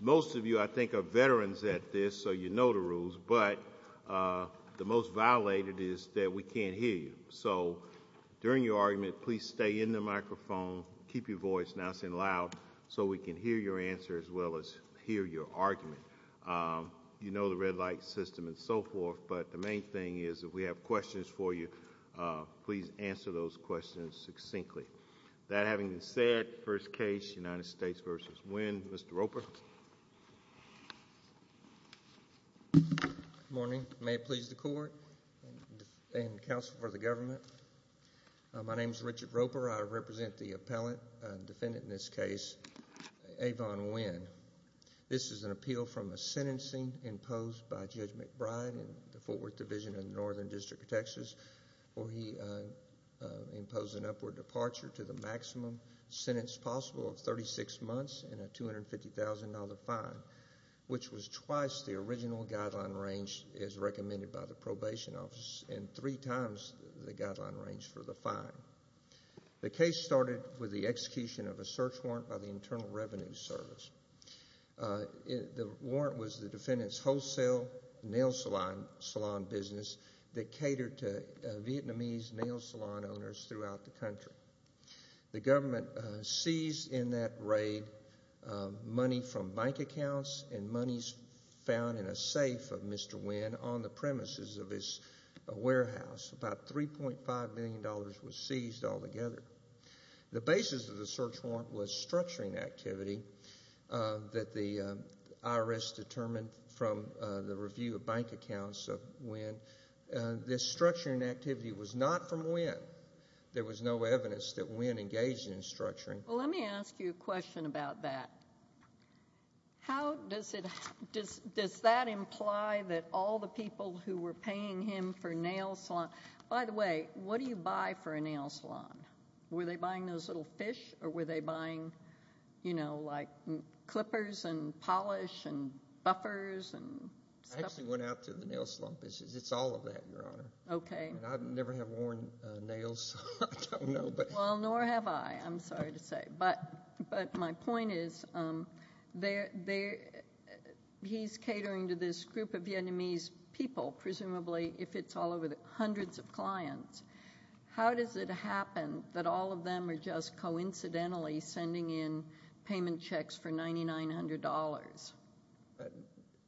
Most of you, I think, are veterans at this, so you know the rules. But the most violated is that we can't hear you. So during your argument, please stay in the microphone, keep your voice nice and loud so we can hear your answer as well as hear your argument. You know the red light system and so forth, but the main thing is if we have questions for you, please answer those questions succinctly. That having been said, first case, United States v. Nguyen. Mr. Roper. Good morning. May it please the court and counsel for the government. My name is Richard Roper. I represent the appellant, defendant in this case, Avan Nguyen. This is an appeal from a sentencing imposed by Judge McBride in the Fort Worth Division in the Northern District of Texas where he imposed an upward departure to the maximum sentence possible of 36 months and a $250,000 fine, which was twice the original guideline range as recommended by the probation office and three times the guideline range for the fine. The case started with the execution of a search warrant by the Internal Revenue Service. The warrant was the defendant's wholesale nail salon business that catered to Vietnamese nail salon owners throughout the country. The government seized in that raid money from bank accounts and monies found in a safe of Mr. Nguyen on the premises of his warehouse. About $3.5 million was seized altogether. The basis of the search warrant was structuring activity that the IRS determined from the review of bank accounts of Nguyen. This structuring activity was not from Nguyen. There was no evidence that Nguyen engaged in structuring. Well, let me ask you a question about that. How does it, does that imply that all the people who were paying him for nail salon, by the way, what do you buy for a nail salon? Were they buying those little fish or were they you know, like clippers and polish and buffers and stuff? I actually went out to the nail salon business. It's all of that, Your Honor. Okay. I never have worn nails, I don't know. Well, nor have I, I'm sorry to say. But my point is, he's catering to this group of Vietnamese people, presumably if it's all over the hundreds of clients. How does it happen that all of them are just coincidentally sending in payment checks for $9900?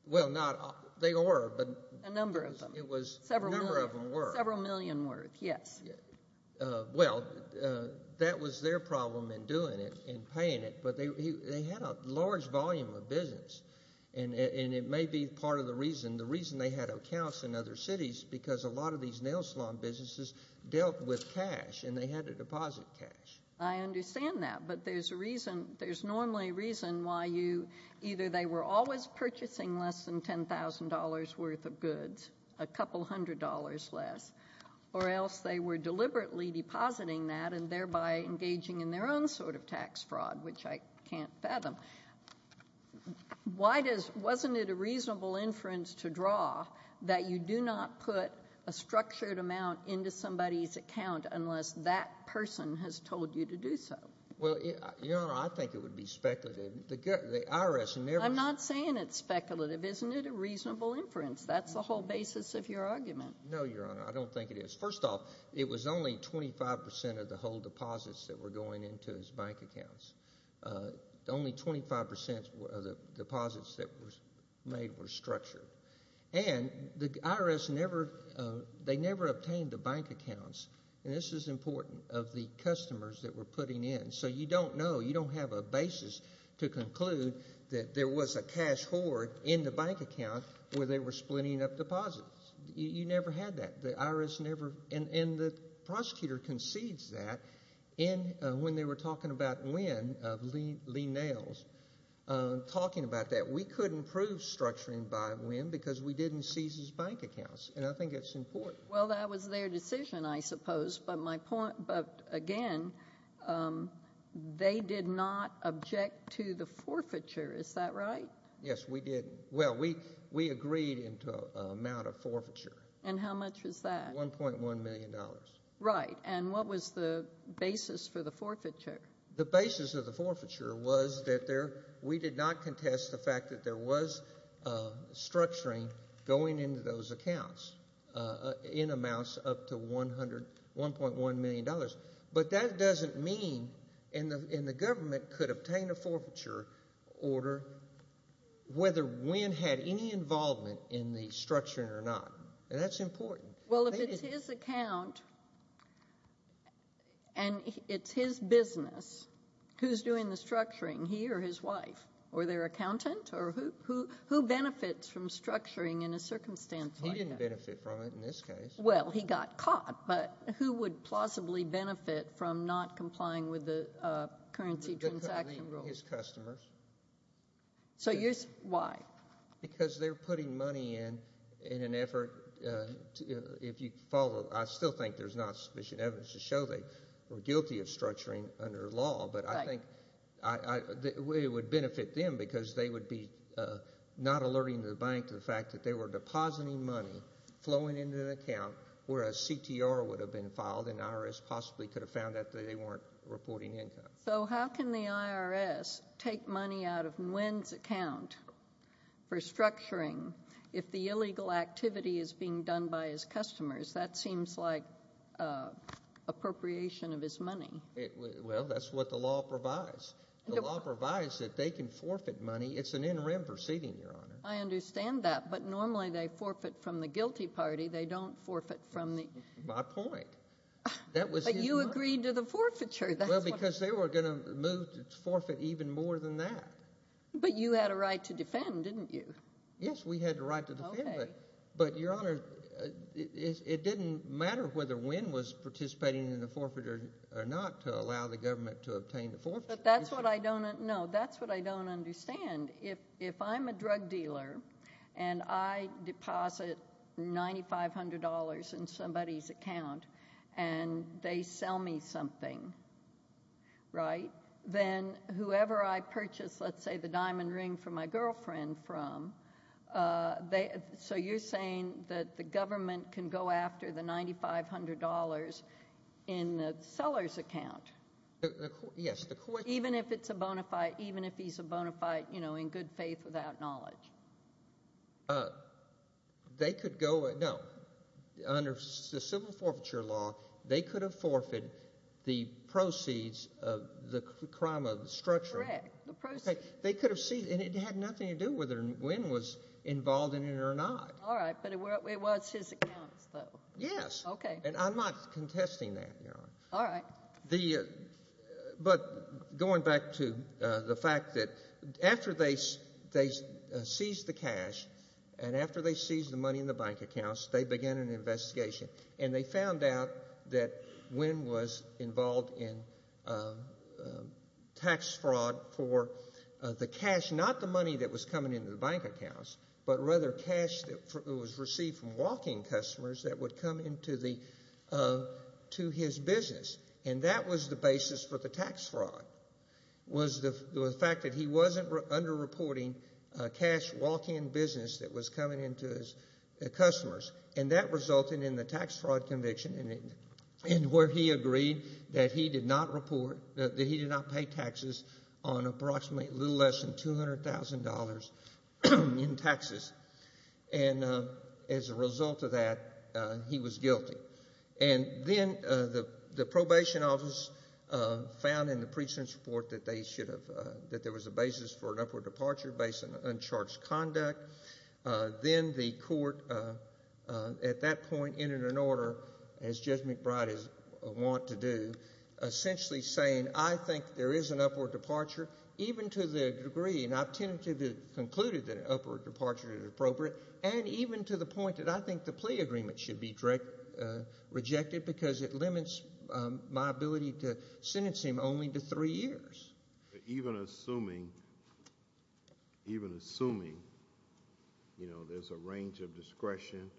Well, not, they were, but. A number of them. It was. A number of them were. Several million worth, yes. Well, that was their problem in doing it, in paying it. But they had a large volume of business and it may be part of the reason, the reason they had accounts in other cities, because a lot of nail salon businesses dealt with cash and they had to deposit cash. I understand that, but there's a reason, there's normally a reason why you, either they were always purchasing less than $10,000 worth of goods, a couple hundred dollars less, or else they were deliberately depositing that and thereby engaging in their own sort of tax fraud, which I can't fathom. Why does, wasn't it a reasonable inference to draw that you do not put a structured amount into somebody's account unless that person has told you to do so? Well, Your Honor, I think it would be speculative. The IRS never. I'm not saying it's speculative. Isn't it a reasonable inference? That's the whole basis of your argument. No, Your Honor, I don't think it is. First off, it was only 25% of the whole deposits that were going into his bank accounts. Only 25% of the deposits that were made were structured. And the IRS never, they never obtained the bank accounts, and this is important, of the customers that were putting in. So you don't know, you don't have a basis to conclude that there was a cash hoard in the bank account where they were splitting up deposits. You never had that. The IRS never, and the talking about Nguyen of Lee Nails, talking about that. We couldn't prove structuring by Nguyen because we didn't seize his bank accounts, and I think it's important. Well, that was their decision, I suppose, but my point, but again, they did not object to the forfeiture. Is that right? Yes, we did. Well, we agreed into an amount of forfeiture. And how much was that? $1.1 million. Right. And what was the basis for the forfeiture? The basis of the forfeiture was that there, we did not contest the fact that there was structuring going into those accounts in amounts up to $1.1 million. But that doesn't mean, and the government could obtain a forfeiture order, whether Nguyen had any involvement in the structuring or not. And that's important. Well, if it's his account, and it's his business, who's doing the structuring? He or his wife? Or their accountant? Or who benefits from structuring in a circumstance like that? He didn't benefit from it in this case. Well, he got caught, but who would plausibly benefit from not complying with the currency transaction rules? His customers. Why? Because they're putting money in, in an effort, if you follow, I still think there's not sufficient evidence to show they were guilty of structuring under law. But I think it would benefit them because they would be not alerting the bank to the fact that they were depositing money flowing into an account where a CTR would have been filed and IRS possibly could have found that they weren't reporting income. So how can the IRS take money out of Nguyen's account for structuring if the illegal activity is being done by his customers? That seems like appropriation of his money. Well, that's what the law provides. The law provides that they can forfeit money. It's an NREM proceeding, Your Honor. I understand that, but normally they forfeit from the guilty party. They don't forfeit from the... My point. That was... But you agreed to the forfeiture. Well, because they were going to move to forfeit even more than that. But you had a right to defend, didn't you? Yes, we had the right to defend, but Your Honor, it didn't matter whether Nguyen was participating in the forfeiture or not to allow the government to obtain the forfeiture. But that's what I don't know. That's what I don't understand. If I'm a drug dealer and I buy a diamond ring, right, then whoever I purchase, let's say, the diamond ring for my girlfriend from, so you're saying that the government can go after the $9,500 in the seller's account? Yes, the... Even if it's a bona fide, even if he's a bona fide, you know, in good faith without knowledge? They could go, no, under the civil forfeiture law, they could have forfeited the proceeds of the crime of the structure. Correct, the proceeds. They could have seen, and it had nothing to do with whether Nguyen was involved in it or not. All right, but it was his accounts, though. Yes. Okay. And I'm not contesting that, Your Honor. All right. The, but going back to the fact that after they seized the cash, and after they seized the money in the bank accounts, they began an investigation, and they found out that Nguyen was involved in tax fraud for the cash, not the money that was coming into the bank accounts, but rather cash that was received from walking customers that would come into the, to his business, and that was the basis for the tax fraud, was the fact that he wasn't underreporting cash walking business that was coming into his customers, and that resulted in the tax fraud conviction, and where he agreed that he did not report, that he did not pay taxes on approximately a little less than $200,000 in taxes, and as a result of that, he was guilty. And then the probation office found in the precinct report that they should have, that there was a basis for an upward departure based on uncharged conduct. Then the court, at that point, entered an order, as Judge McBride would want to do, essentially saying, I think there is an upward departure, even to the degree, and I've concluded that an upward departure is appropriate, and even to the point that I think the plea agreement should be rejected because it limits my ability to sentence him only to three years. Even assuming, even assuming, you know, there's a range of discretion,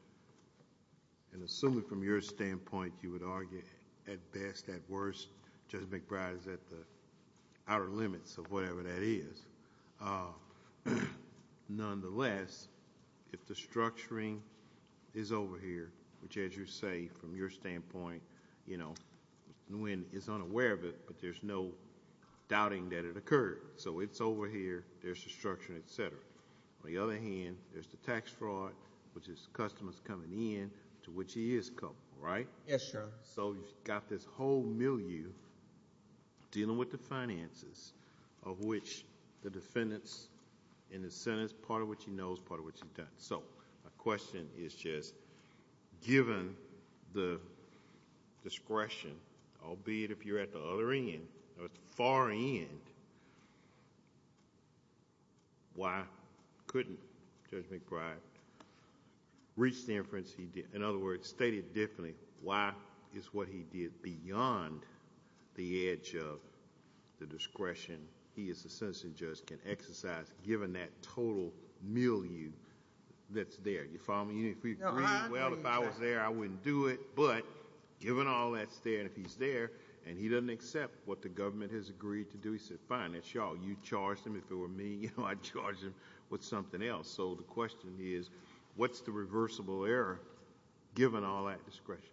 and assuming from your standpoint, you would argue, at best, at worst, Judge McBride is at the outer limits of whatever that is. Nonetheless, if the structuring is over here, which as you say, from your standpoint, you know, Nguyen is unaware of it, but there's no doubting that it occurred. So it's over here, there's the structure, etc. On the other hand, there's the tax fraud, which is customers coming in, to which he is culpable, right? Yes, sir. So you've got this whole milieu, dealing with the finances, of which the defendant's in the sentence, part of which he knows, part of which he doesn't. So my question is just, given the discretion, albeit if you're at the other end, at the far end, why couldn't Judge McBride reach the inference he did? In other words, state it differently, why is what he did beyond the edge of the discretion he, as a sentencing judge, can exercise, given that total milieu that's there? You follow me? Uh-huh. Well, if I was there, I wouldn't do it, but given all that's there, and if he's there, and he doesn't accept what the government has agreed to do, he said, fine, that's y'all. You charged him, if it were me, you know, I'd charge him with something else. So the question is, what's the reversible error, given all that discretion?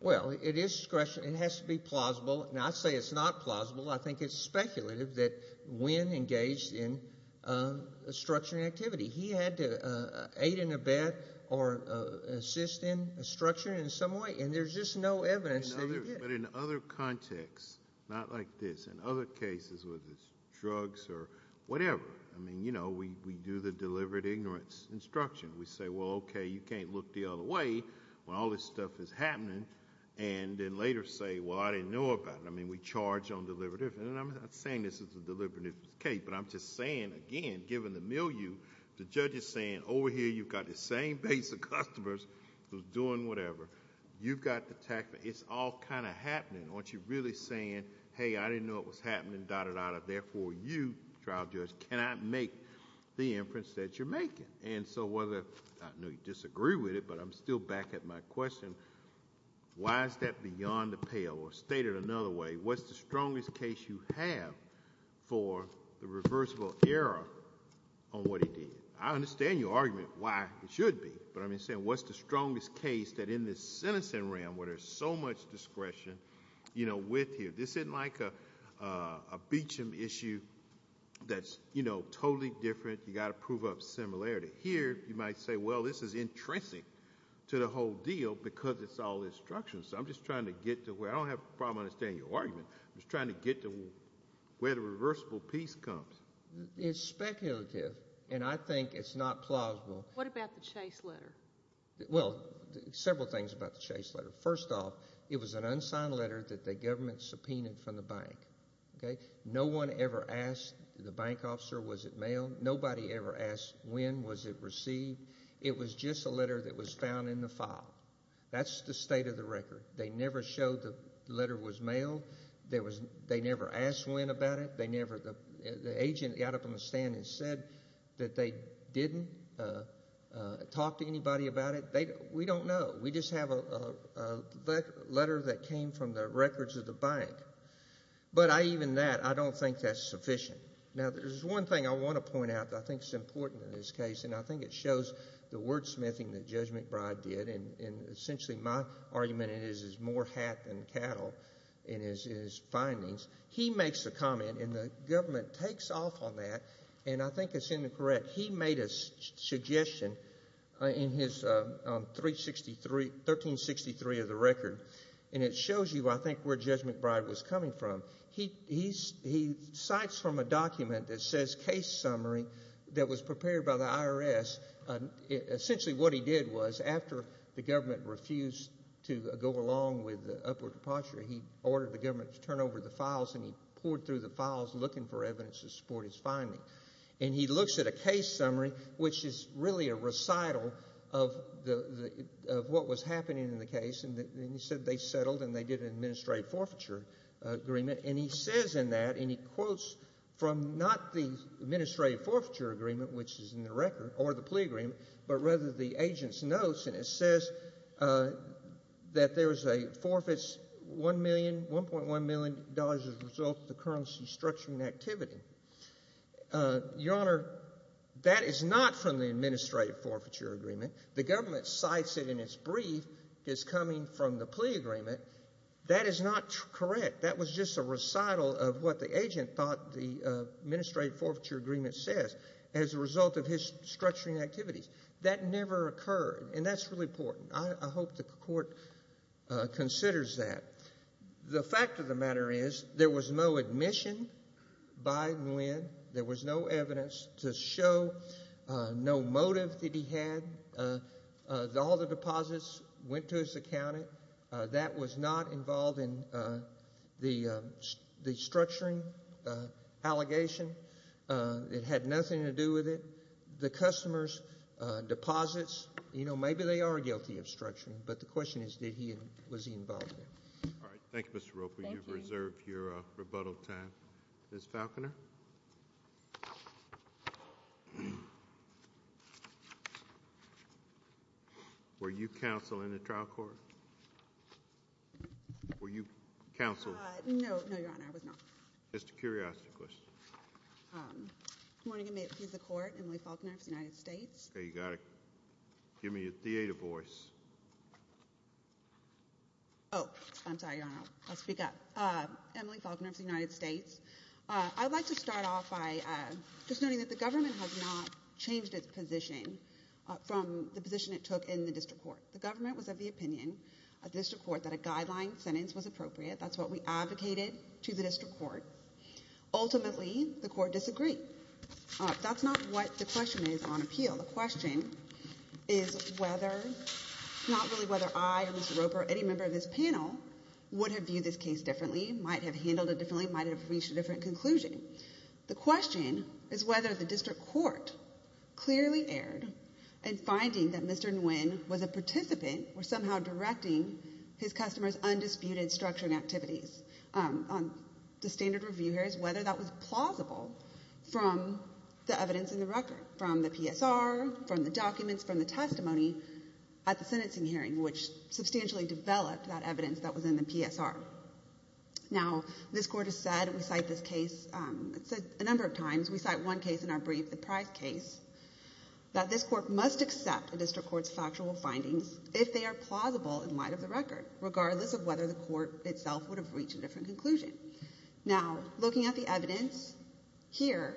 Well, it is discretion. It has to be plausible, and I say it's not plausible. I think it's speculative that Wynn engaged in obstruction activity. He had to aid in a bet or assist in obstruction in some way, and there's just no evidence that he did. But in other contexts, not like this, in other cases, whether it's drugs or whatever, I say, well, okay, you can't look the other way when all this stuff is happening, and then later say, well, I didn't know about it. I mean, we charge on deliberative, and I'm not saying this is a deliberative case, but I'm just saying, again, given the milieu, the judge is saying, over here, you've got the same base of customers who's doing whatever. You've got the tax... it's all kind of happening. Aren't you really saying, hey, I didn't know it was happening, dot, dot, dot, therefore, you, trial judge, cannot make the inference that you're making? And so whether... I know you disagree with it, but I'm still back at my question. Why is that beyond the pale? Or stated another way, what's the strongest case you have for the reversible error on what he did? I understand your argument why it should be, but I'm just saying, what's the strongest case that in this sentencing realm, where there's so much discretion, you know, with you? This isn't like a Beecham issue that's, you know, totally different. You've got to prove up similarity. Here, you might say, well, this is intrinsic to the whole deal because it's all instruction. So I'm just trying to get to where... I don't have a problem understanding your argument. I'm just trying to get to where the reversible piece comes. It's speculative, and I think it's not plausible. What about the Chase letter? Well, several things about the Chase letter. First off, it was an unsigned letter that the government subpoenaed from the bank, okay? No one ever asked the bank officer was it mailed. Nobody ever asked when was it received. It was just a letter that was found in the file. That's the state of the record. They never showed the letter was mailed. There was... they never asked when about it. They never... the agent got up on the stand and said that they didn't talk to anybody about it. We don't know. We just have a letter that came from the records of the bank. But even that, I don't think that's sufficient. Now, there's one thing I want to point out that I think is important in this case, and I think it shows the wordsmithing that Judge McBride did, and essentially my argument is it's more hat than cattle in his findings. He makes a comment, and the government takes off on that, and I think it's incorrect. He made a suggestion in his 1363 of the record, and it shows you, I think, where Judge McBride was coming from. He cites from a document that says case summary that was prepared by the IRS. Essentially what he did was after the government refused to go along with the upward departure, he ordered the government to turn over the files, and he poured through the files looking for evidence to support his finding. And he looks at a case summary, which is really a recital of what was happening in the case, and he said they settled and they did an administrative forfeiture agreement. And he says in that, and he quotes from not the administrative forfeiture agreement, which is in the record, or the plea agreement, but rather the agent's notes, and it says that there was a forfeits $1.1 million as a result of the currency structuring activity. Your Honor, that is not from the administrative forfeiture agreement. The government cites it in its brief as coming from the plea agreement. That is not correct. That was just a recital of what the agent thought the administrative forfeiture agreement says as a result of his structuring activities. That never occurred, and that's really important. I hope the court considers that. The fact of the matter is there was no admission by Nguyen. There was no evidence to show no motive that he had. All the deposits went to his accountant. That was not involved in the structuring allegation. It had nothing to do with it. The customers' deposits, you know, maybe they are guilty of structuring, but the question is, was he involved in it? All right. Thank you, Mr. Roper. You've reserved your rebuttal time. Ms. Falconer? Were you counsel in the trial court? Were you counsel? No, no, Your Honor, I was not. Just a curiosity question. Good morning. I'm Emily Falconer of the United States. Okay. You've got to give me a theater voice. Oh, I'm sorry, Your Honor. I'll speak up. Emily Falconer of the United States. I'd like to start off by just noting that the government has not changed its position from the position it took in the district court. The government was of the opinion of the district court that a guideline sentence was appropriate. That's what we advocated to the district court. Ultimately, the court disagreed. That's not what the question is on appeal. The question is whether, not really whether I or Mr. Roper or any member of this panel would have viewed this case differently, might have handled it differently, might have reached a different conclusion. The question is whether the district court clearly erred in finding that Mr. Nguyen was a participant or somehow directing his customers' undisputed structuring activities. The standard review here is whether that was plausible from the evidence in the record, from the PSR, from the documents, from the testimony at the sentencing hearing, which substantially developed that evidence that was in the PSR. Now, this court has said, and we cite this case a number of times, we cite one case in our brief, the Price case, that this court must accept a district court's factual findings if they are plausible in light of the record, regardless of whether the court itself would have reached a different conclusion. Now, looking at the evidence here,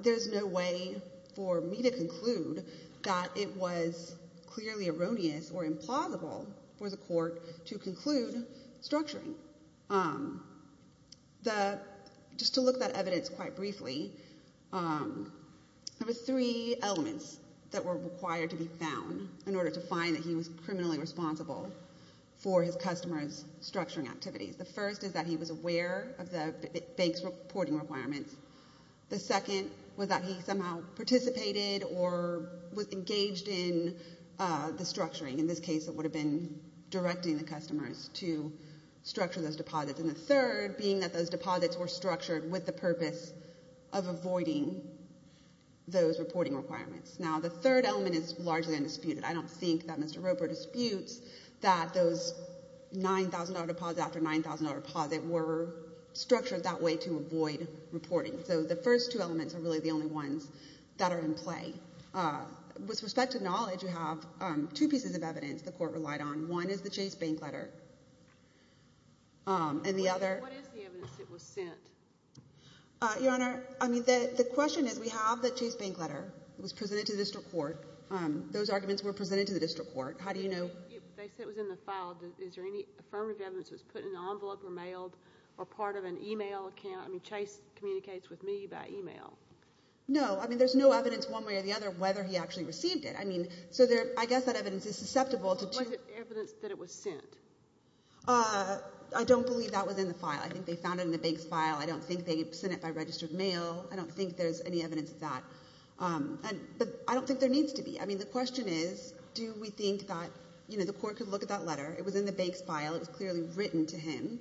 there's no way for me to conclude that it was clearly erroneous or implausible for the court to conclude structuring. Just to look at that evidence quite briefly, there were three elements that were required to be found in order to find that he was criminally responsible for his customers' structuring activities. The first is that he was aware of the bank's reporting requirements. The second was that he somehow participated or was engaged in the structuring. In this case, it would have been directing the customers to structure those deposits. And the third being that those deposits were structured with the purpose of avoiding those reporting requirements. Now, the third element is largely undisputed. I don't think that Mr. Roper disputes that those $9,000 deposit after $9,000 deposit were structured that way to avoid reporting. So the first two elements are really the only ones that are in play. With respect to knowledge, you have two pieces of evidence the court relied on. One is the Chase bank letter. And the other... What is the evidence that was sent? Your Honor, I mean, the question is we have the Chase bank letter. It was presented to the district court. Those arguments were presented to the district court. How do you know... Is there any affirmative evidence that was put in an envelope or mailed? Or part of an email account? I mean, Chase communicates with me by email. No. I mean, there's no evidence one way or the other whether he actually received it. I mean, so there... I guess that evidence is susceptible to... Was it evidence that it was sent? I don't believe that was in the file. I think they found it in the bank's file. I don't think they sent it by registered mail. I don't think there's any evidence of that. But I don't think there needs to be. I mean, the question is, do we think that, you know, the court could look at that letter? It was in the bank's file. It was clearly written to him.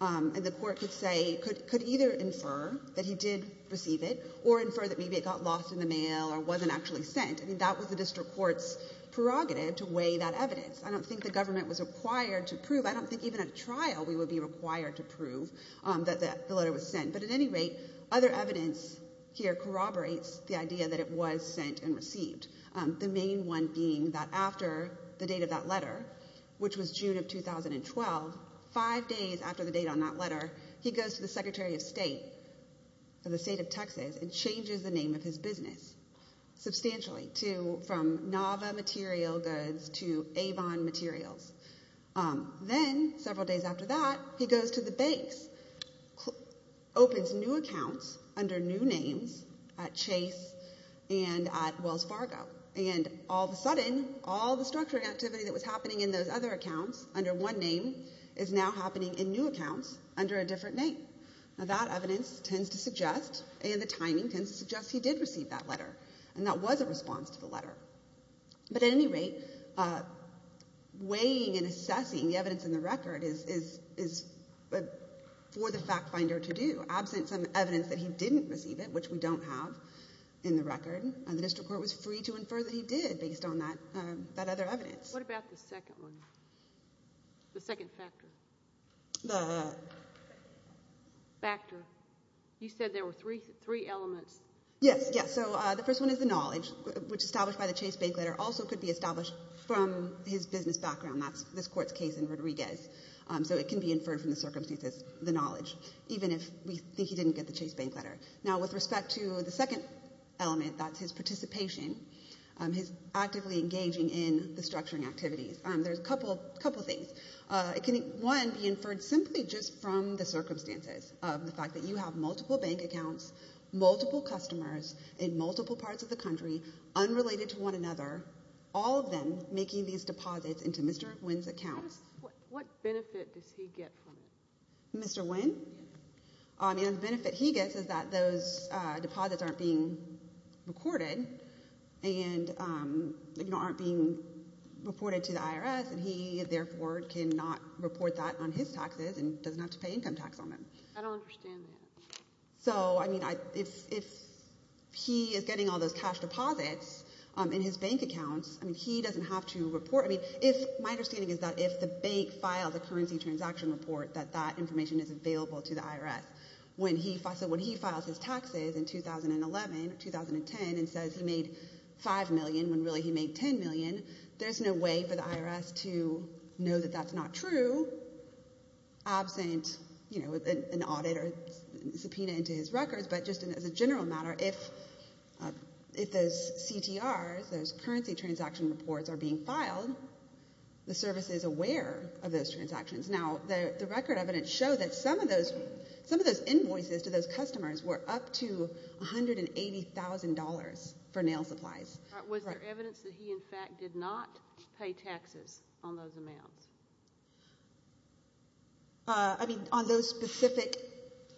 And the court could say... Could either infer that he did receive it or infer that maybe it got lost in the mail or wasn't actually sent. I mean, that was the district court's prerogative to weigh that evidence. I don't think the government was required to prove... I don't think even at a trial we would be required to prove that the letter was sent. But at any rate, other evidence here corroborates the idea that it was sent and received. The main one being that after the date of that letter, which was June of 2012, five days after the date on that letter, he goes to the secretary of state of the state of Texas and changes the name of his business substantially to from Nava Material Goods to Avon Materials. Then several days after that, he goes to the banks, opens new accounts under new names at Chase and at Wells Fargo. And all of a sudden, all the structuring activity that was happening in those other accounts under one name is now happening in new accounts under a different name. Now, that evidence tends to suggest and the timing tends to suggest he did receive that letter. And that was a response to the letter. But at any rate, weighing and assessing the evidence in the record is for the fact finder to do. Absent some evidence that he didn't receive it, which we don't have in the record, the district court was free to infer that he did based on that other evidence. What about the second one, the second factor? The factor. You said there were three elements. Yes, yes. So the first one is the knowledge, which established by the Chase bank letter, also could be established from his business background. That's this court's case in Rodriguez. So it can be inferred from the circumstances, the knowledge, even if we think he didn't get the Chase bank letter. Now, with respect to the second element, that's his participation, his actively engaging in the structuring activities. There's a couple of things. It can, one, be inferred simply just from the circumstances of the fact that you have multiple bank accounts, multiple customers in multiple parts of the country, unrelated to one another, all of them making these deposits into Mr. Nguyen's account. What benefit does he get from it? Mr. Nguyen? And the benefit he gets is that those deposits aren't being recorded. And, you know, aren't being reported to the IRS. And he, therefore, cannot report that on his taxes and doesn't have to pay income tax on them. I don't understand that. So, I mean, if he is getting all those cash deposits in his bank accounts, I mean, he doesn't have to report. I mean, if my understanding is that if the bank files a currency transaction report, that that information is available to the IRS. So when he files his taxes in 2011 or 2010 and says he made 5 million when really he made 10 million, there's no way for the IRS to know that that's not true, absent, you know, an audit or subpoena into his records. But just as a general matter, if those CTRs, those currency transaction reports, are being filed, the service is aware of those transactions. Now, the record evidence shows that some of those invoices to those customers were up to $180,000 for nail supplies. All right. Was there evidence that he, in fact, did not pay taxes on those amounts? I mean, on those specific,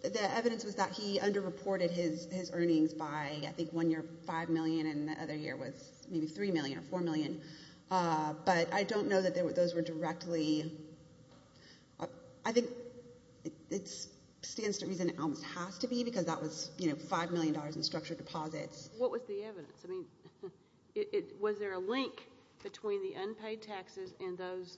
the evidence was that he underreported his earnings by, I think, one year 5 million and the other year was maybe 3 million or 4 million. But I don't know that those were directly, I think it stands to reason it almost has to be because that was, you know, $5 million in structured deposits. What was the evidence? I mean, was there a link between the unpaid taxes and those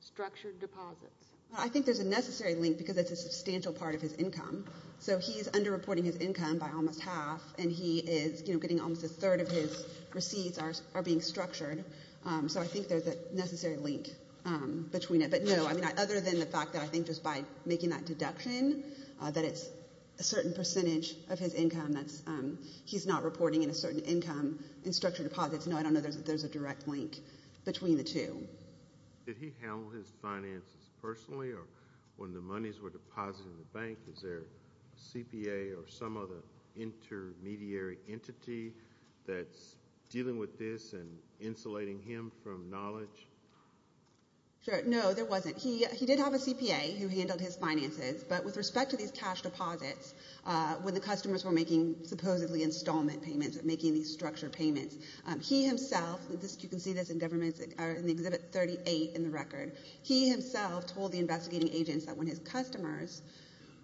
structured deposits? I think there's a necessary link because it's a substantial part of his income. So he's underreporting his income by almost half and he is, you know, getting almost a third of his So I think there's a necessary link between it. But no, I mean, other than the fact that I think just by making that deduction, that it's a certain percentage of his income that's, he's not reporting in a certain income in structured deposits. No, I don't know that there's a direct link between the two. Did he handle his finances personally or when the monies were deposited in the bank? Is there a CPA or some other intermediary entity that's dealing with this and insulating him from knowledge? Sure, no, there wasn't. He did have a CPA who handled his finances. But with respect to these cash deposits, when the customers were making supposedly installment payments, making these structured payments, he himself, you can see this in government, in Exhibit 38 in the record, he himself told the investigating agents that when his customers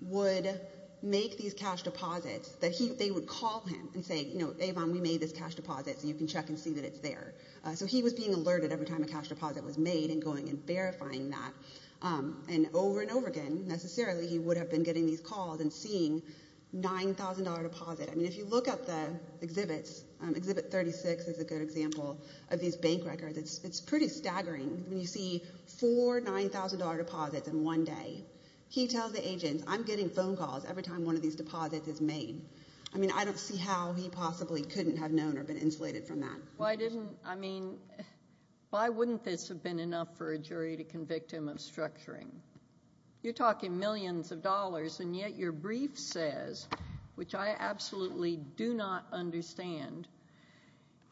would make these cash deposits that they would call him and say, you know, Avon, we made this cash deposit so you can check and see that it's there. So he was being alerted every time a cash deposit was made and going and verifying that. And over and over again, necessarily, he would have been getting these calls and seeing $9,000 deposit. I mean, if you look up the exhibits, Exhibit 36 is a good example of these bank records. It's pretty staggering when you see four $9,000 deposits in one day. He tells the agents, I'm getting phone calls every time one of these deposits is made. I mean, I don't see how he possibly couldn't have known or been insulated from that. Why didn't, I mean, why wouldn't this have been enough for a jury to convict him of structuring? You're talking millions of dollars and yet your brief says, which I absolutely do not understand,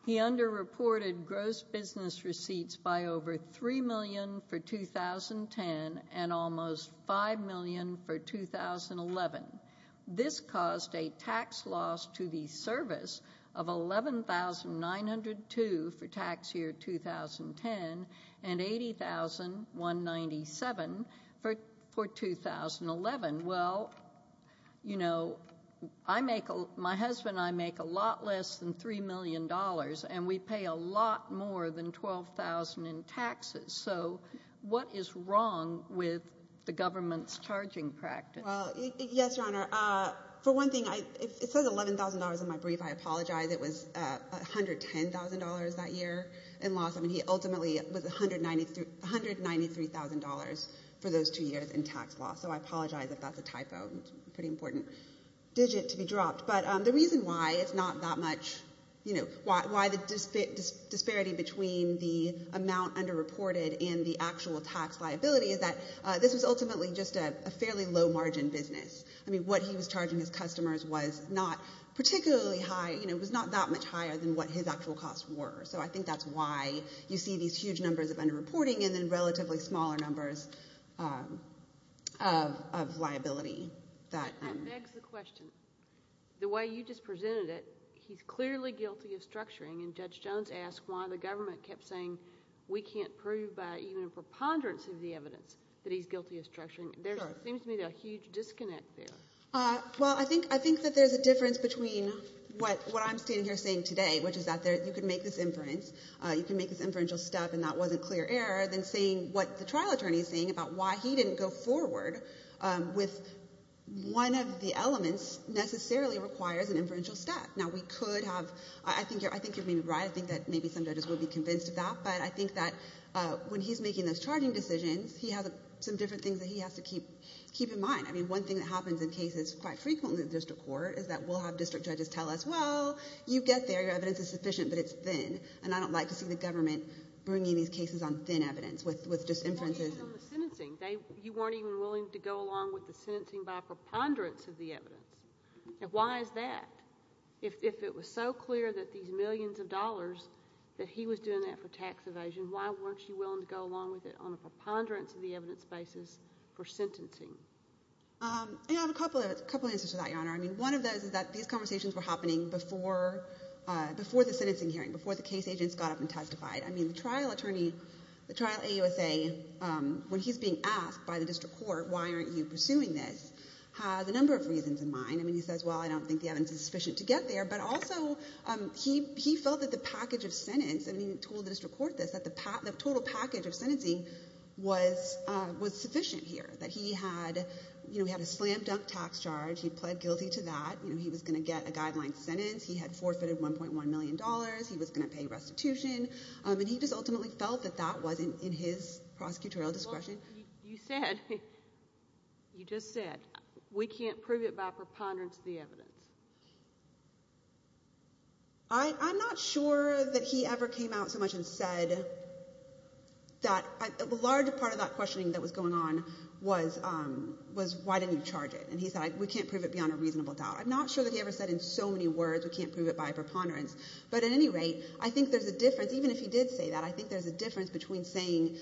he under-reported gross business receipts by over $3 million for 2010 and almost $5 million for 2011. This caused a tax loss to the service of $11,902 for tax year 2010 and $80,197 for 2011. Well, you know, I make, my husband and I make a lot less than $3 million and we pay a lot more than $12,000 in taxes. So what is wrong with the government's charging practice? Yes, Your Honor. For one thing, it says $11,000 in my brief. I apologize. It was $110,000 that year in loss. I mean, he ultimately was $193,000 for those two years in tax loss. So I apologize if that's a typo. It's a pretty important digit to be dropped. But the reason why it's not that much, you know, why the disparity between the amount under-reported and the actual tax liability is that this was ultimately just a fairly low-margin business. I mean, what he was charging his customers was not particularly high, you know, it was not that much higher than what his actual costs were. So I think that's why you see these huge numbers of under-reporting and then relatively smaller numbers of liability. That begs the question. The way you just presented it, he's clearly guilty of structuring and Judge Jones asked why the government kept saying we can't prove by even a preponderance of the evidence that he's guilty of structuring. There seems to be a huge disconnect there. Well, I think that there's a difference between what I'm standing here saying today, which is that you can make this inference, you can make this inferential stuff and that wasn't clear error, than saying what the trial attorney is saying about why he didn't go forward with one of the elements necessarily requires an inferential step. Now, we could have, I think you're maybe right. I think that maybe some judges will be convinced of that. But I think that when he's making those charging decisions, he has some different things that he has to keep in mind. I mean, one thing that happens in cases quite frequently in district court is that we'll have district judges tell us, well, you get there, your evidence is sufficient, but it's thin. And I don't like to see the government bringing these cases on thin evidence with just inferences. Well, even on the sentencing, you weren't even willing to go along with the sentencing by a preponderance of the evidence. Why is that? If it was so clear that these millions of dollars, that he was doing that for tax evasion, why weren't you willing to go along with it on a preponderance of the evidence basis for sentencing? I have a couple of answers to that, Your Honor. I mean, one of those is that these conversations were happening before the sentencing hearing, before the case agents got up and testified. I mean, the trial attorney, the trial AUSA, when he's being asked by the district court, why aren't you pursuing this, has a number of reasons in mind. I mean, he says, well, I don't think the evidence is sufficient to get there. But also, he felt that the package of sentence, and he told the district court this, that the total package of sentencing was sufficient here, that he had a slam dunk tax charge. He pled guilty to that. He was going to get a guideline sentence. He had forfeited $1.1 million. He was going to pay restitution. And he just ultimately felt that that wasn't in his prosecutorial discretion. You said, you just said, we can't prove it by preponderance of the evidence. I'm not sure that he ever came out so much and said that a large part of that questioning that was going on was, was why didn't you charge it? And he said, we can't prove it beyond a reasonable doubt. I'm not sure that he ever said in so many words, we can't prove it by preponderance. But at any rate, I think there's a difference, even if he did say that, I think there's a difference between saying,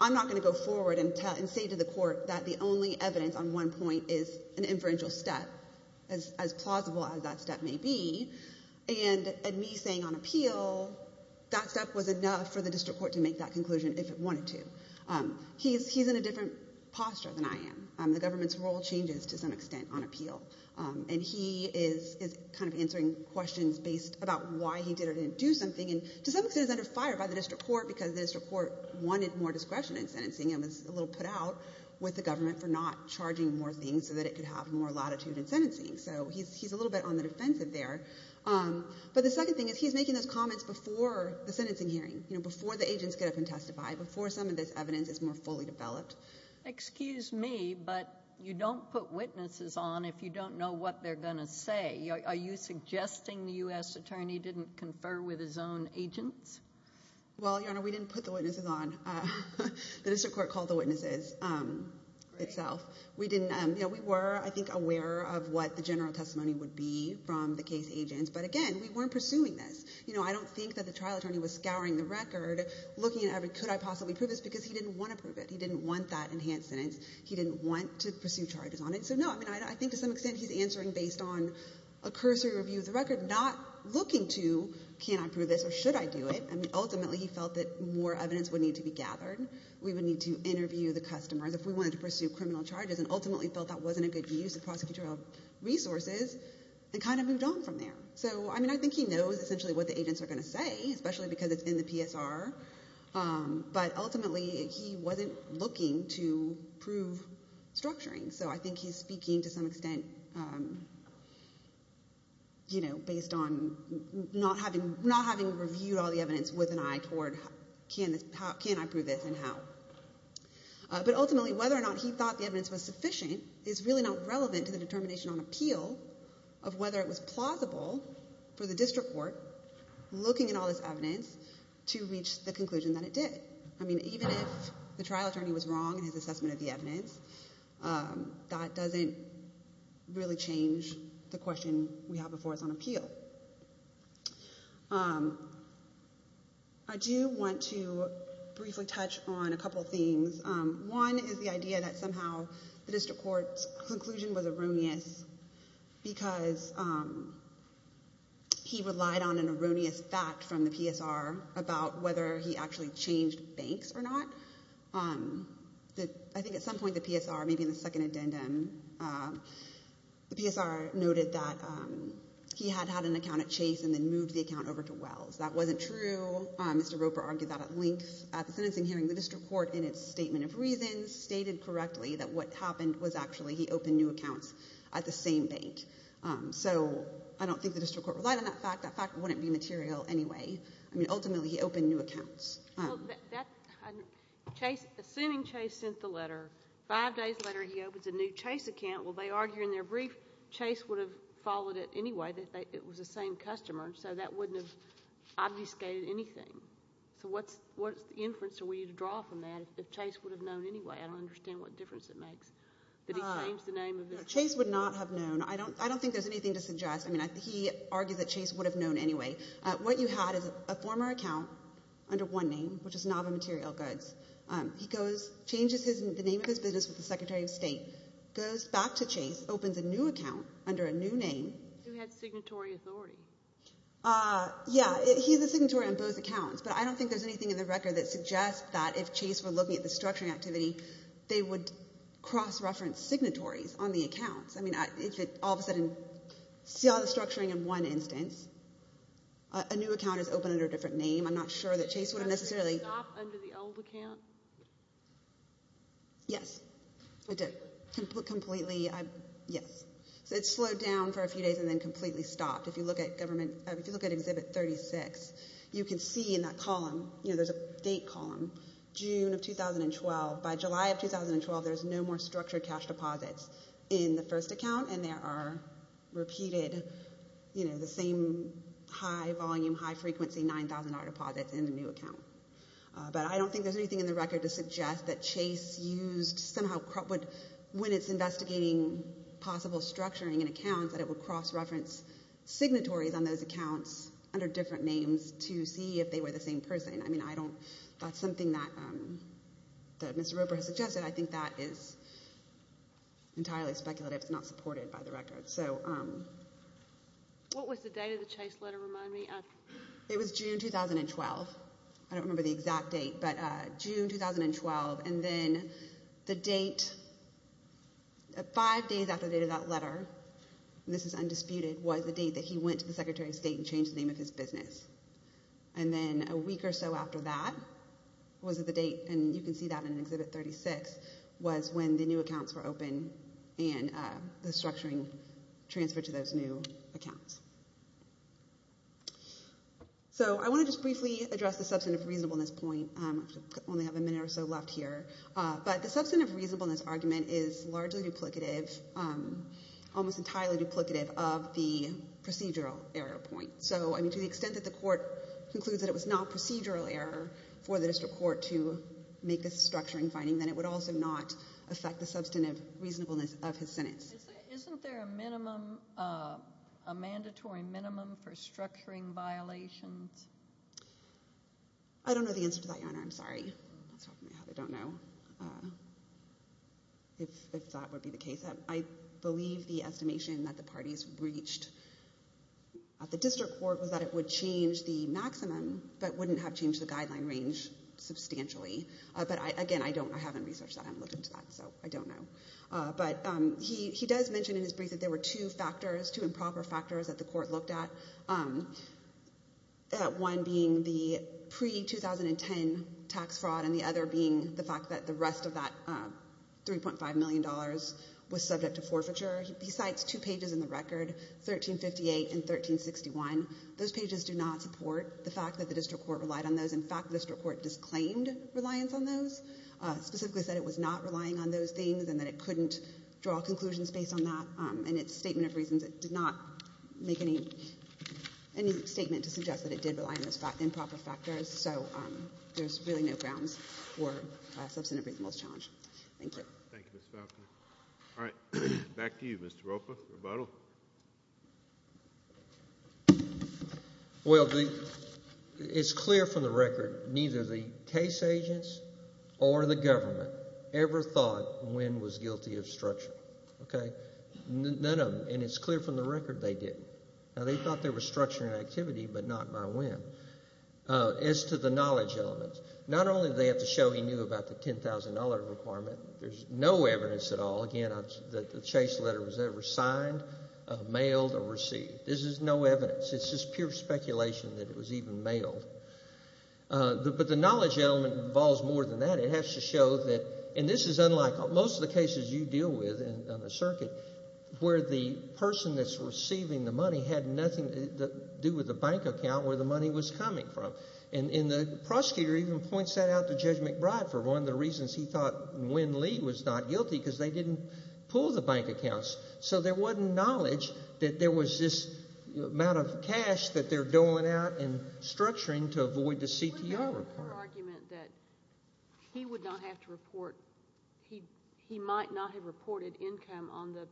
I'm not going to go forward and say to the court that the only evidence on one point is an inferential step, as plausible as that step may be, and me saying on appeal, that step was enough for the district court to make that conclusion if it wanted to. He's in a different posture than I am. The government's role changes to some extent on appeal. And he is kind of answering questions based about why he did or didn't do something. And to some extent, he's under fire by the district court because the district court wanted more discretion in sentencing and was a little put out with the government for not charging more things so that it could have more latitude in sentencing. So he's a little bit on the defensive there. But the second thing is, he's making those comments before the sentencing hearing, before the agents get up and testify, before some of this evidence is more fully developed. Excuse me, but you don't put witnesses on if you don't know what they're going to say. Are you suggesting the U.S. attorney didn't confer with his own agents? Well, Your Honor, we didn't put the witnesses on. The district court called the witnesses itself. We were, I think, aware of what the general testimony would be from the case agents. But again, we weren't pursuing this. I don't think that the trial attorney was scouring the record, looking at, could I possibly prove this? Because he didn't want to prove it. He didn't want that enhanced sentence. He didn't want to pursue charges on it. So no, I think to some extent, he's answering based on a cursory review of the record, not looking to, can I prove this or should I do it? I mean, ultimately, he felt that more evidence would need to be gathered. We would need to interview the customers if we wanted to pursue criminal charges and ultimately felt that wasn't a good use of prosecutorial resources and kind of moved on from there. So I mean, I think he knows essentially what the agents are going to say, especially because it's in the PSR. But ultimately, he wasn't looking to prove structuring. So I think he's speaking, to some extent, based on not having reviewed all the evidence with an eye toward, can I prove this and how? But ultimately, whether or not he thought the evidence was sufficient is really not relevant to the determination on appeal of whether it was plausible for the district court looking at all this evidence to reach the conclusion that it did. I mean, even if the trial attorney was wrong in his assessment of the evidence, that doesn't really change the question we have before us on appeal. I do want to briefly touch on a couple of themes. One is the idea that somehow the district court's conclusion was erroneous because he relied on an erroneous fact from the PSR about whether he actually changed banks or not. I think at some point, the PSR, maybe in the second addendum, the PSR noted that he had had an account at Chase and then moved the account over to Wells. That wasn't true. Mr. Roper argued that at length at the sentencing hearing. The district court, in its statement of reasons, stated correctly that what happened was actually he opened new accounts at the same bank. So I don't think the district court relied on that fact. That fact wouldn't be material anyway. I mean, ultimately, he opened new accounts. Assuming Chase sent the letter, five days later he opens a new Chase account, will they argue in their brief Chase would have followed it anyway, that it was the same customer? So that wouldn't have obfuscated anything. So what's the inference that we need to draw from that, if Chase would have known anyway? I don't understand what difference it makes. Chase would not have known. I don't think there's anything to suggest. I mean, he argued that Chase would have known anyway. What you had is a former account under one name, which is Nava Material Goods. He goes, changes the name of his business with the Secretary of State, goes back to Chase, opens a new account under a new name. Who had signatory authority. Yeah, he's a signatory on both accounts, but I don't think there's anything in the record that suggests that, if Chase were looking at the structuring activity, they would cross-reference signatories on the accounts. I mean, if it all of a sudden, see all the structuring in one instance, a new account is open under a different name. I'm not sure that Chase would have necessarily- Did it stop under the old account? Yes, it did. Completely, yes. So it slowed down for a few days and then completely stopped. If you look at government, if you look at Exhibit 36, you can see in that column, you know, there's a date column, June of 2012. By July of 2012, there's no more structured cash deposits in the first account, and there are repeated, you know, the same high volume, high frequency, $9,000 deposits in the new account. But I don't think there's anything in the record to suggest that Chase used somehow, when it's investigating possible structuring in accounts, that it would cross-reference signatories on those accounts under different names to see if they were the same person. I mean, that's something that Mr. Roper has suggested. I think that is entirely speculative. It's not supported by the record. What was the date of the Chase letter, remind me? It was June 2012. I don't remember the exact date, but June 2012. And then the date, five days after the date of that letter, was the date that he went to the Secretary of State and changed the name of his business. And then a week or so after that was the date, and you can see that in Exhibit 36, was when the new accounts were open and the structuring transferred to those new accounts. So I want to just briefly address the substantive reasonableness point. I only have a minute or so left here. But the substantive reasonableness argument is largely duplicative, almost entirely duplicative of the procedural error point. To the extent that the court concludes that it was not procedural error for the district court to make this structuring finding, then it would also not affect the substantive reasonableness of his sentence. Isn't there a minimum, a mandatory minimum for structuring violations? I don't know the answer to that, Your Honor, I'm sorry. I'm not talking about how they don't know if that would be the case. I believe the estimation that the parties reached at the district court was that it would change the maximum, but wouldn't have changed the guideline range substantially. But again, I don't, I haven't researched that. I'm looking into that, so I don't know. But he does mention in his brief that there were two factors, two improper factors that the court looked at, one being the pre-2010 tax fraud and the other being the fact that the rest of that $3.5 million was subject to forfeiture. He cites two pages in the record, 1358 and 1361. Those pages do not support the fact that the district court relied on those. In fact, the district court disclaimed reliance on those, specifically said it was not relying on those things and that it couldn't draw conclusions based on that. In its statement of reasons, it did not make any statement to suggest that it did rely on those improper factors. So there's really no grounds for a substantive reasonableness challenge. Thank you. Thank you, Ms. Falconer. All right, back to you, Mr. Ropa, rebuttal. Well, it's clear from the record neither the case agents or the government ever thought Nguyen was guilty of structuring, okay? None of them. And it's clear from the record they didn't. Now, they thought there was structuring activity, but not by Nguyen. As to the knowledge elements, not only do they have to show he knew about the $10,000 requirement, there's no evidence at all. That the chase letter was ever signed, mailed, or received. This is no evidence. It's just pure speculation that it was even mailed. But the knowledge element involves more than that. It has to show that, and this is unlike most of the cases you deal with in the circuit, where the person that's receiving the money had nothing to do with the bank account where the money was coming from. And the prosecutor even points that out to Judge McBride for one of the reasons he thought Nguyen Lee was not guilty because they didn't pull the bank accounts. So there wasn't knowledge that there was this amount of cash that they're doling out and structuring to avoid the CTR report. What about your argument that he would not have to report, he might not have reported income on the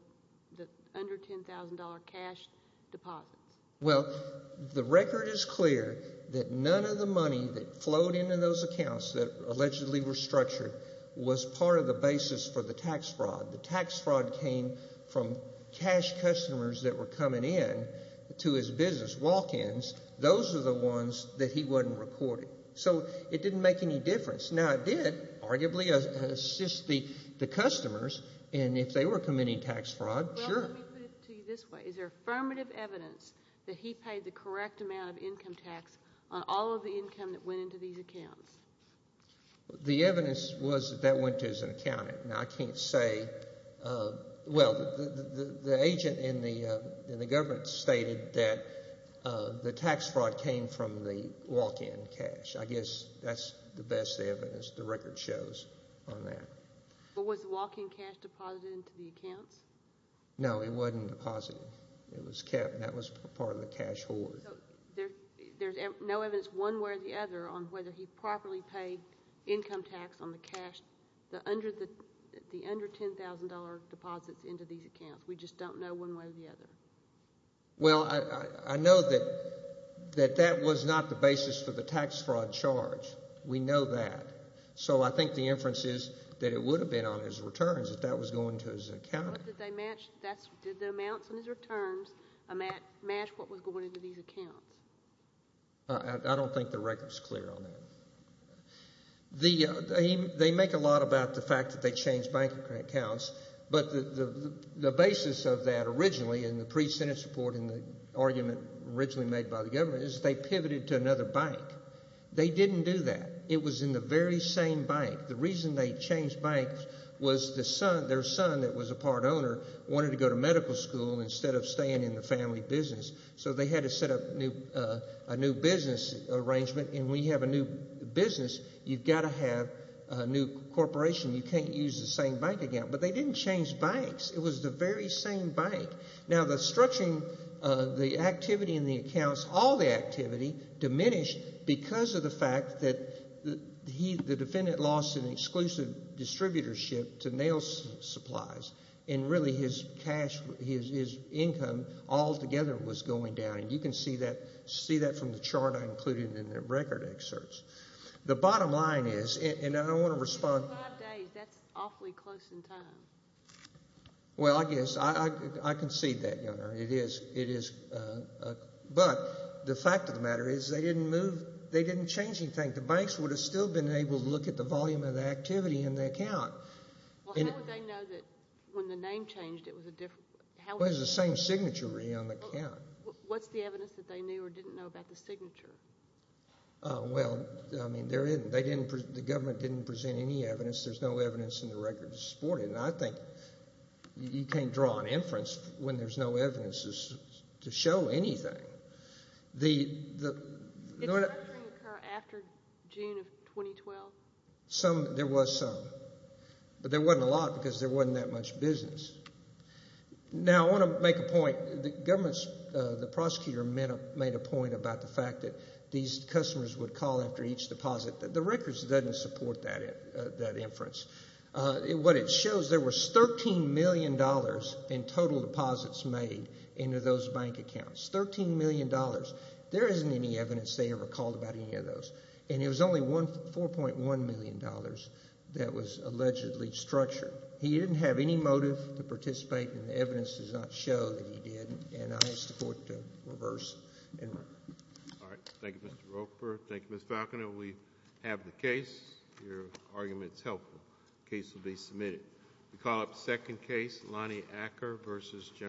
under $10,000 cash deposits? Well, the record is clear that none of the money that flowed into those accounts that allegedly were structured was part of the basis for the tax fraud. The tax fraud came from cash customers that were coming in to his business, walk-ins. Those are the ones that he wasn't recording. So it didn't make any difference. Now, it did arguably assist the customers, and if they were committing tax fraud, sure. Well, let me put it to you this way. Is there affirmative evidence that he paid the correct amount of income tax on all of the income that went into these accounts? Well, the evidence was that that went to his accountant. Now, I can't say... Well, the agent in the government stated that the tax fraud came from the walk-in cash. I guess that's the best evidence the record shows on that. But was the walk-in cash deposited into the accounts? No, it wasn't deposited. It was kept, and that was part of the cash hoard. There's no evidence one way or the other on whether he properly paid income tax on the cash, the under $10,000 deposits into these accounts. We just don't know one way or the other. Well, I know that that was not the basis for the tax fraud charge. We know that. So I think the inference is that it would have been on his returns if that was going to his accountant. Well, did the amounts in his returns match what was going into these accounts? I don't think the record's clear on that. They make a lot about the fact that they changed bank accounts, but the basis of that originally in the pre-Senate support in the argument originally made by the government is they pivoted to another bank. They didn't do that. It was in the very same bank. The reason they changed banks was their son, that was a part owner, wanted to go to medical school instead of staying in the family business. So they had to set up a new business arrangement. And when you have a new business, you've got to have a new corporation. You can't use the same bank account. But they didn't change banks. It was the very same bank. Now, the structuring, the activity in the accounts, all the activity diminished because of the fact that the defendant lost an exclusive distributorship to nail supplies. And really his cash, his income altogether was going down. And you can see that from the chart I included in the record excerpts. The bottom line is, and I don't want to respond. In five days, that's awfully close in time. Well, I guess I concede that, Your Honor. It is, it is. But the fact of the matter is they didn't move, they didn't change anything. The banks would have still been able to look at the volume of activity in the account. Well, how would they know that when the name changed, it was a different, it was the same signature on the account. What's the evidence that they knew or didn't know about the signature? Well, I mean, they didn't, the government didn't present any evidence. There's no evidence in the record to support it. And I think you can't draw an inference when there's no evidence to show anything. After June of 2012? Some, there was some. But there wasn't a lot because there wasn't that much business. Now, I want to make a point. The government's, the prosecutor made a point about the fact that these customers would call after each deposit. The records doesn't support that inference. What it shows, there was $13 million in total deposits made into those bank accounts. $13 million. There isn't any evidence they ever called about any of those. And it was only $4.1 million that was allegedly structured. He didn't have any motive to participate. And the evidence does not show that he did. And I support the reverse. All right. Thank you, Mr. Roper. Thank you, Ms. Falconer. We have the case. Your argument's helpful. The case will be submitted. We call up second case, Lonnie Acker versus General.